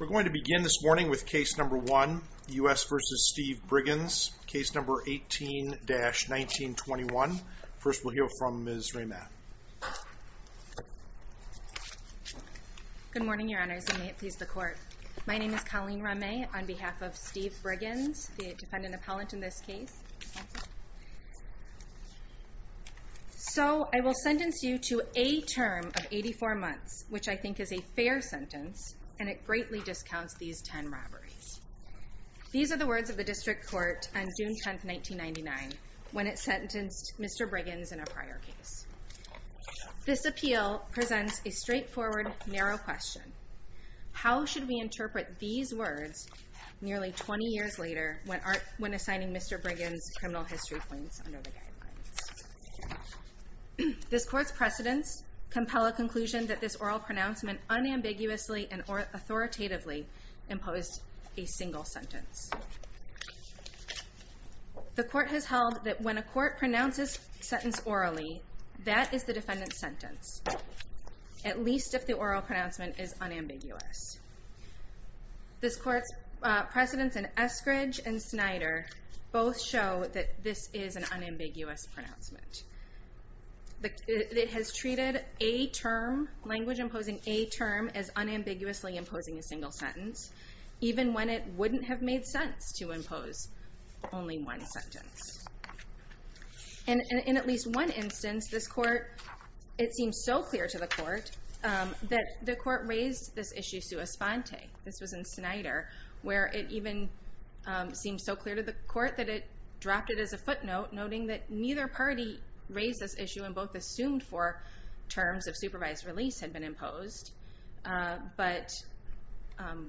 We're going to begin this morning with case number one, U.S. v. Steve Briggins, case number 18-1921. First we'll hear from Ms. Rehman. Good morning, your honors, and may it please the court. My name is Colleen Rehman on behalf of Steve Briggins, the defendant appellant in this case. So I will sentence you to a term of 84 months, which I think is a fair sentence, and it greatly discounts these 10 robberies. These are the words of the district court on June 10, 1999, when it sentenced Mr. Briggins in a prior case. This appeal presents a straightforward, narrow question. How should we interpret these words nearly 20 years later when assigning Mr. Briggins criminal history points under the guidelines? This court's precedents compel a conclusion that this oral pronouncement unambiguously and authoritatively imposed a single sentence. The court has held that when a court pronounces a sentence orally, that is the defendant's sentence, at least if the oral pronouncement is unambiguous. This court's precedents in Eskridge and Snyder both show that this is an unambiguous pronouncement. It has treated language imposing a term as unambiguously imposing a single sentence, even when it wouldn't have made sense to impose only one sentence. In at least one instance, it seems so clear to the court that the court raised this issue sua sponte. This was in Snyder, where it even seemed so clear to the court that it dropped it as a footnote, noting that neither party raised this issue and both assumed four terms of supervised release had been imposed. But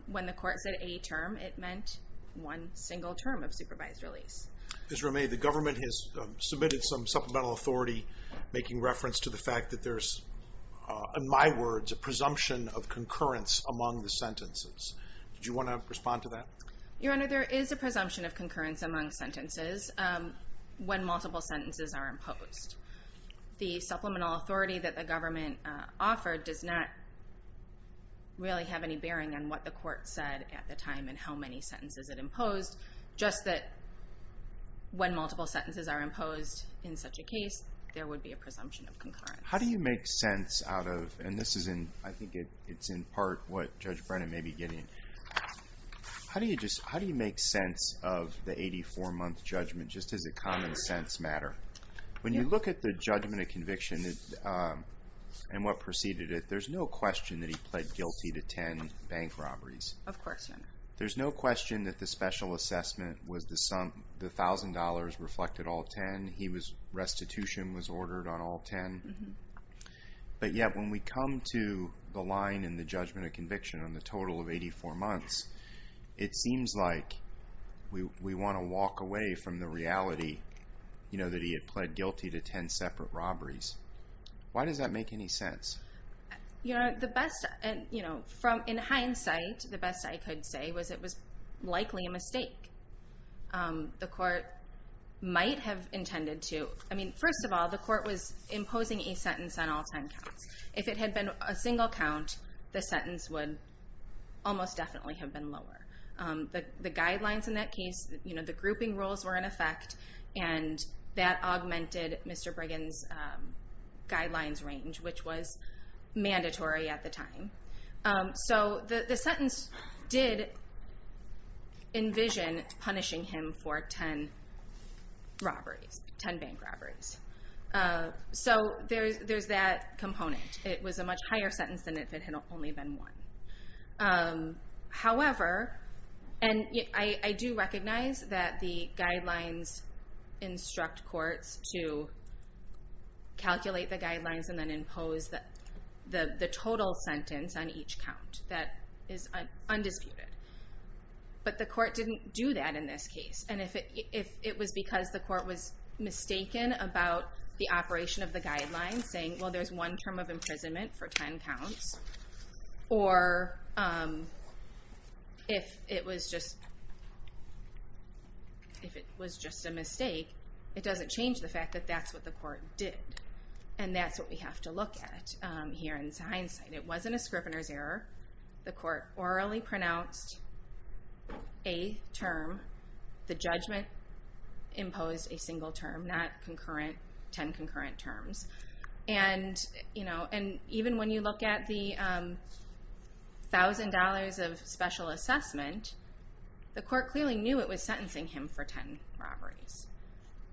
when the court said a term, it meant one single term of supervised release. Ms. Ramey, the government has submitted some supplemental authority making reference to the fact that there's, in my words, a presumption of concurrence among the sentences. Do you want to respond to that? Your Honor, there is a presumption of concurrence among sentences when multiple sentences are imposed. The supplemental authority that the government offered does not really have any bearing on what the court said at the time and how many sentences it imposed. Just that when multiple sentences are imposed in such a case, there would be a presumption of concurrence. How do you make sense out of, and this is in, I think it's in part what Judge Brennan may be getting, how do you make sense of the 84-month judgment? Just does it common sense matter? When you look at the judgment of conviction and what preceded it, there's no question that he pled guilty to 10 bank robberies. Of course, Your Honor. There's no question that the special assessment was the sum, the $1,000 reflected all 10. He was, restitution was ordered on all 10. But yet, when we come to the line in the judgment of conviction on the total of 84 months, it seems like we want to walk away from the reality, you know, that he had pled guilty to 10 separate robberies. Why does that make any sense? You know, the best, you know, in hindsight, the best I could say was it was likely a mistake. The court might have intended to, I mean, first of all, the court was imposing a sentence on all 10 counts. If it had been a single count, the sentence would almost definitely have been lower. The guidelines in that case, you know, the grouping rules were in effect, and that augmented Mr. Brigham's guidelines range, which was mandatory at the time. So the sentence did envision punishing him for 10 robberies, 10 bank robberies. So there's that component. It was a much higher sentence than if it had only been one. However, and I do recognize that the guidelines instruct courts to calculate the guidelines and then impose the total sentence on each count. That is undisputed. But the court didn't do that in this case. And if it was because the court was mistaken about the operation of the guidelines, saying, well, there's one term of imprisonment for 10 counts, or if it was just a mistake, it doesn't change the fact that that's what the court did. And that's what we have to look at here in hindsight. It wasn't a scrivener's error. The court orally pronounced a term. The judgment imposed a single term, not 10 concurrent terms. And even when you look at the $1,000 of special assessment, the court clearly knew it was sentencing him for 10 robberies.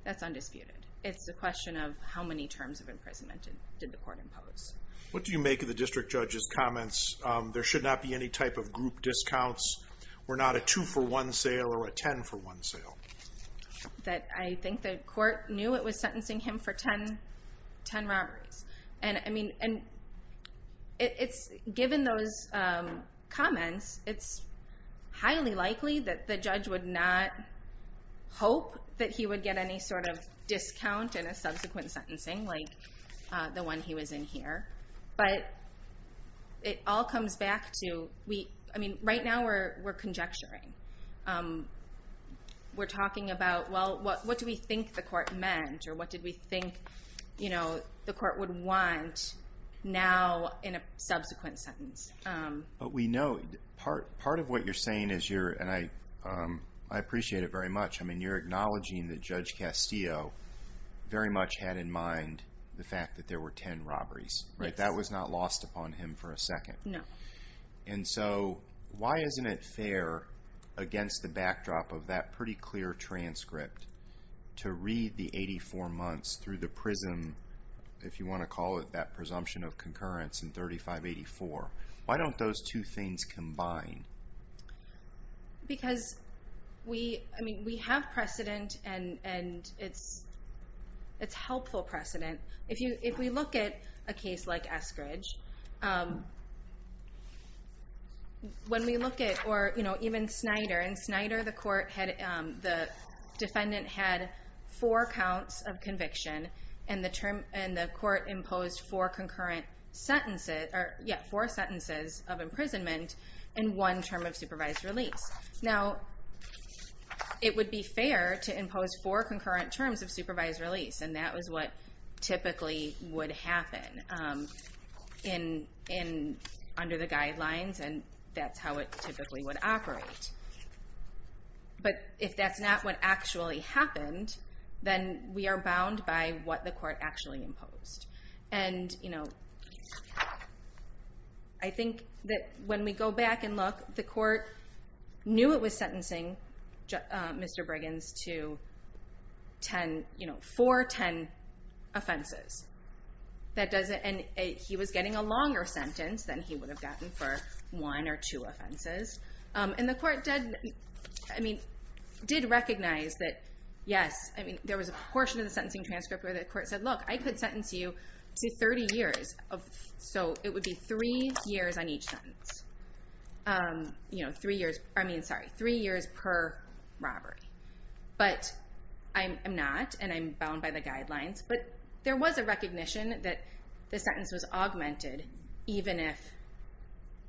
That's undisputed. It's a question of how many terms of imprisonment did the court impose. What do you make of the district judge's comments? There should not be any type of group discounts. We're not a two-for-one sale or a 10-for-one sale. I think the court knew it was sentencing him for 10 robberies. And, I mean, given those comments, it's highly likely that the judge would not hope that he would get any sort of discount in a subsequent sentencing like the one he was in here. But it all comes back to, I mean, right now we're conjecturing. We're talking about, well, what do we think the court meant or what did we think the court would want now in a subsequent sentence? But we know part of what you're saying is you're, and I appreciate it very much, I mean, you're acknowledging that Judge Castillo very much had in mind the fact that there were 10 robberies, right? That was not lost upon him for a second. No. And so why isn't it fair, against the backdrop of that pretty clear transcript, to read the 84 months through the prism, if you want to call it that, presumption of concurrence in 3584? Why don't those two things combine? Because we have precedent and it's helpful precedent. If we look at a case like Eskridge, when we look at, or even Snyder, and Snyder, the defendant had four counts of conviction and the court imposed four concurrent sentences, or yeah, four sentences of imprisonment and one term of supervised release. Now, it would be fair to impose four concurrent terms of supervised release, and that was what typically would happen under the guidelines and that's how it typically would operate. But if that's not what actually happened, then we are bound by what the court actually imposed. And I think that when we go back and look, the court knew it was sentencing Mr. Briggins to four ten offenses. And he was getting a longer sentence than he would have gotten for one or two offenses. And the court did recognize that, yes, there was a portion of the sentencing transcript where the court said, look, I could sentence you to 30 years. So it would be three years on each sentence. You know, three years, I mean, sorry, three years per robbery. But I'm not and I'm bound by the guidelines, but there was a recognition that the sentence was augmented even if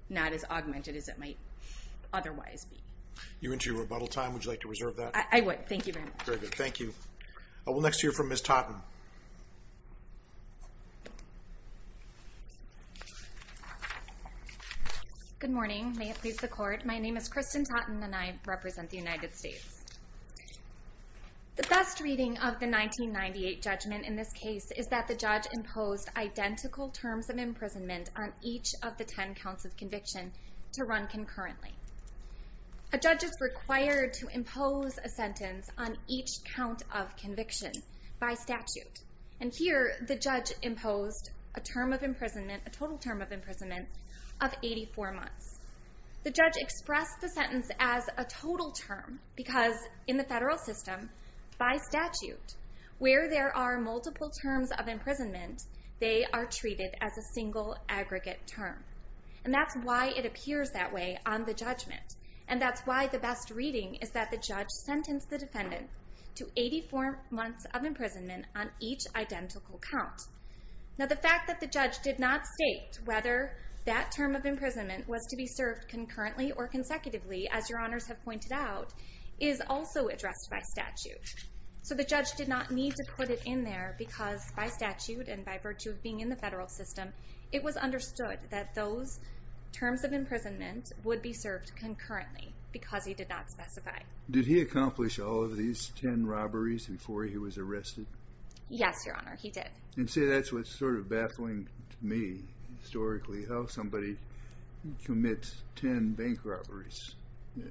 not as augmented as it might otherwise be. You're into your rebuttal time, would you like to reserve that? I would, thank you very much. Very good, thank you. We'll next hear from Ms. Totten. Good morning, may it please the court. My name is Kristen Totten and I represent the United States. The best reading of the 1998 judgment in this case is that the judge imposed identical terms of imprisonment on each of the ten counts of conviction to run concurrently. A judge is required to impose a sentence on each count of conviction by statute. And here the judge imposed a total term of imprisonment of 84 months. The judge expressed the sentence as a total term because in the federal system, by statute, where there are multiple terms of imprisonment, they are treated as a single aggregate term. And that's why it appears that way on the judgment. And that's why the best reading is that the judge sentenced the defendant to 84 months of imprisonment on each identical count. Now the fact that the judge did not state whether that term of imprisonment was to be served concurrently or consecutively, as your honors have pointed out, is also addressed by statute. So the judge did not need to put it in there because by statute and by virtue of being in the federal system, it was understood that those terms of imprisonment would be served concurrently because he did not specify. Did he accomplish all of these ten robberies before he was arrested? Yes, your honor, he did. And see, that's what's sort of baffling to me, historically, how somebody commits ten bank robberies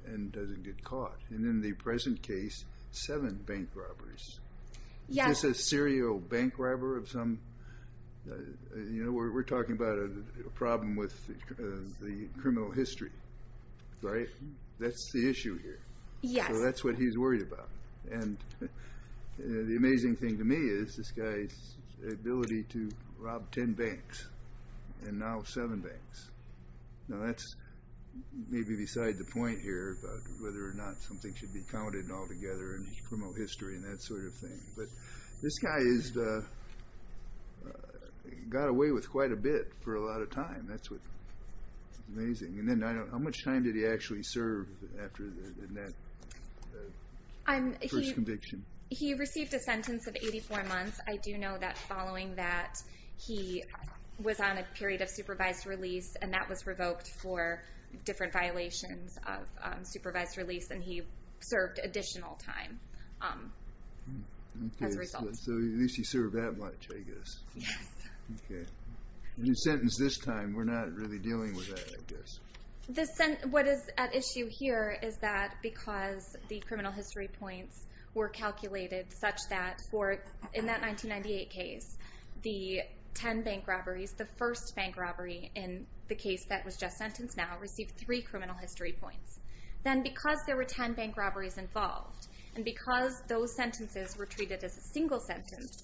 and doesn't get caught. And in the present case, seven bank robberies. Is this a serial bank robber of some? We're talking about a problem with the criminal history, right? That's the issue here. So that's what he's worried about. And the amazing thing to me is this guy's ability to rob ten banks and now seven banks. Now that's maybe beside the point here about whether or not something should be counted altogether in criminal history and that sort of thing. But this guy got away with quite a bit for a lot of time. That's what's amazing. And then how much time did he actually serve after that first conviction? He received a sentence of 84 months. I do know that following that, he was on a period of supervised release, and that was revoked for different violations of supervised release, and he served additional time as a result. Okay, so at least he served that much, I guess. Yes. Okay. And he's sentenced this time. We're not really dealing with that, I guess. What is at issue here is that because the criminal history points were calculated such that in that 1998 case, the ten bank robberies, the first bank robbery in the case that was just sentenced now, received three criminal history points. Then because there were ten bank robberies involved and because those sentences were treated as a single sentence,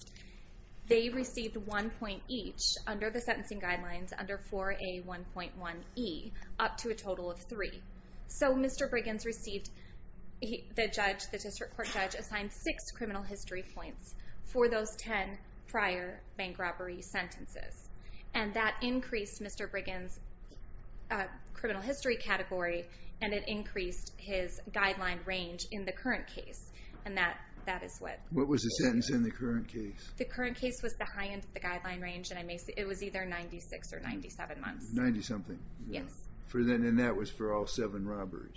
they received one point each under the sentencing guidelines under 4A1.1e, up to a total of three. So Mr. Briggins received the judge, the district court judge, assigned six criminal history points for those ten prior bank robbery sentences. And that increased Mr. Briggins' criminal history category and it increased his guideline range in the current case, and that is what... What was the sentence in the current case? The current case was the high end of the guideline range, and it was either 96 or 97 months. Ninety-something. Yes. And that was for all seven robberies.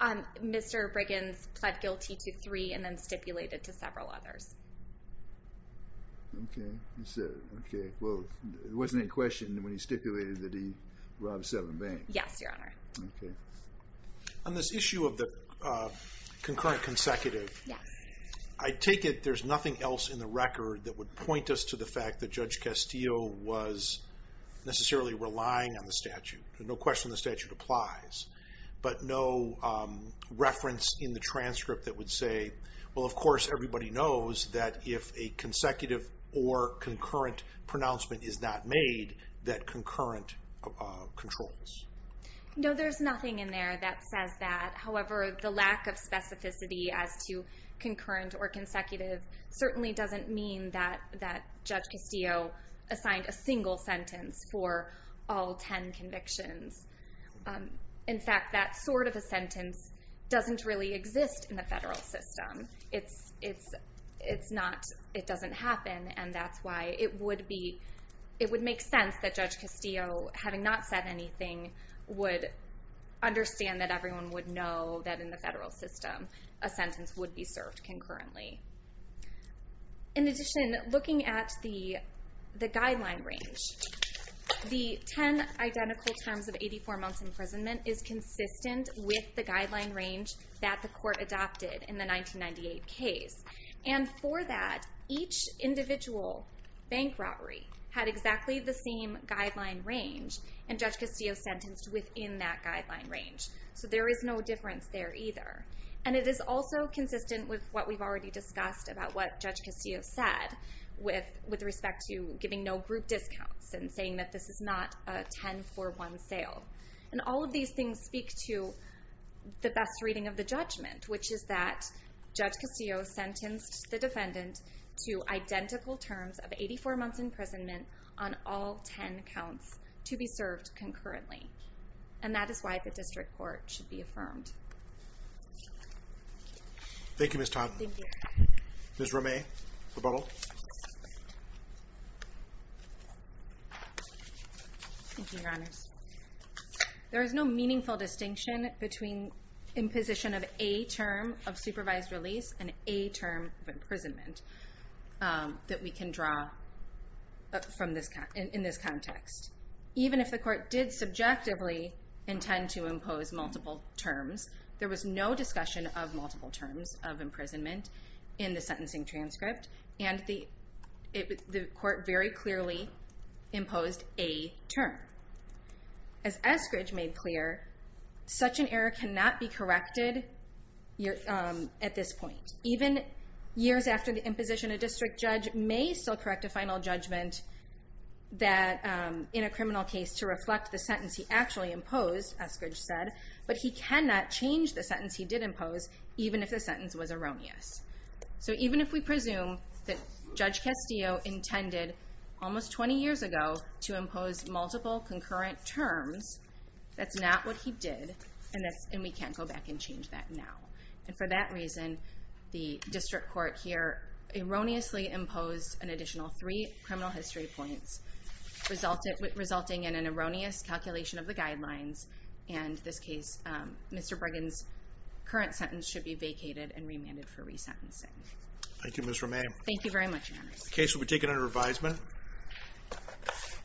Mr. Briggins pled guilty to three and then stipulated to several others. Okay. Well, there wasn't any question when he stipulated that he robbed seven banks. Yes, Your Honor. Okay. On this issue of the concurrent consecutive... Yes. I take it there's nothing else in the record that would point us to the fact that Judge Castillo was necessarily relying on the statute. No question the statute applies, but no reference in the transcript that would say, Well, of course, everybody knows that if a consecutive or concurrent pronouncement is not made, that concurrent controls. No, there's nothing in there that says that. However, the lack of specificity as to concurrent or consecutive certainly doesn't mean that Judge Castillo assigned a single sentence for all ten convictions. In fact, that sort of a sentence doesn't really exist in the federal system. It doesn't happen, and that's why it would make sense that Judge Castillo, having not said anything, would understand that everyone would know that in the federal system a sentence would be served concurrently. In addition, looking at the guideline range, the ten identical terms of 84 months imprisonment is consistent with the guideline range that the court adopted in the 1998 case. For that, each individual bank robbery had exactly the same guideline range, and Judge Castillo sentenced within that guideline range. So there is no difference there either. It is also consistent with what we've already discussed about what Judge Castillo said with respect to giving no group discounts and saying that this is not a ten-for-one sale. And all of these things speak to the best reading of the judgment, which is that Judge Castillo sentenced the defendant to identical terms of 84 months imprisonment on all ten counts to be served concurrently. And that is why the district court should be affirmed. Thank you, Ms. Todd. Thank you. Ms. Romay, rebuttal. Thank you, Your Honors. There is no meaningful distinction between imposition of a term of supervised release and a term of imprisonment that we can draw in this context. Even if the court did subjectively intend to impose multiple terms, there was no discussion of multiple terms of imprisonment in the sentencing transcript, and the court very clearly imposed a term. As Eskridge made clear, such an error cannot be corrected at this point. Even years after the imposition, a district judge may still correct a final judgment in a criminal case to reflect the sentence he actually imposed, Eskridge said, but he cannot change the sentence he did impose, even if the sentence was erroneous. So even if we presume that Judge Castillo intended almost 20 years ago to impose multiple concurrent terms, that's not what he did, and we can't go back and change that now. And for that reason, the district court here erroneously imposed an additional three criminal history points, resulting in an erroneous calculation of the guidelines, and in this case, Mr. Brigham's current sentence should be vacated and remanded for resentencing. Thank you, Ms. Romain. Thank you very much, Your Honors. The case will be taken under advisement.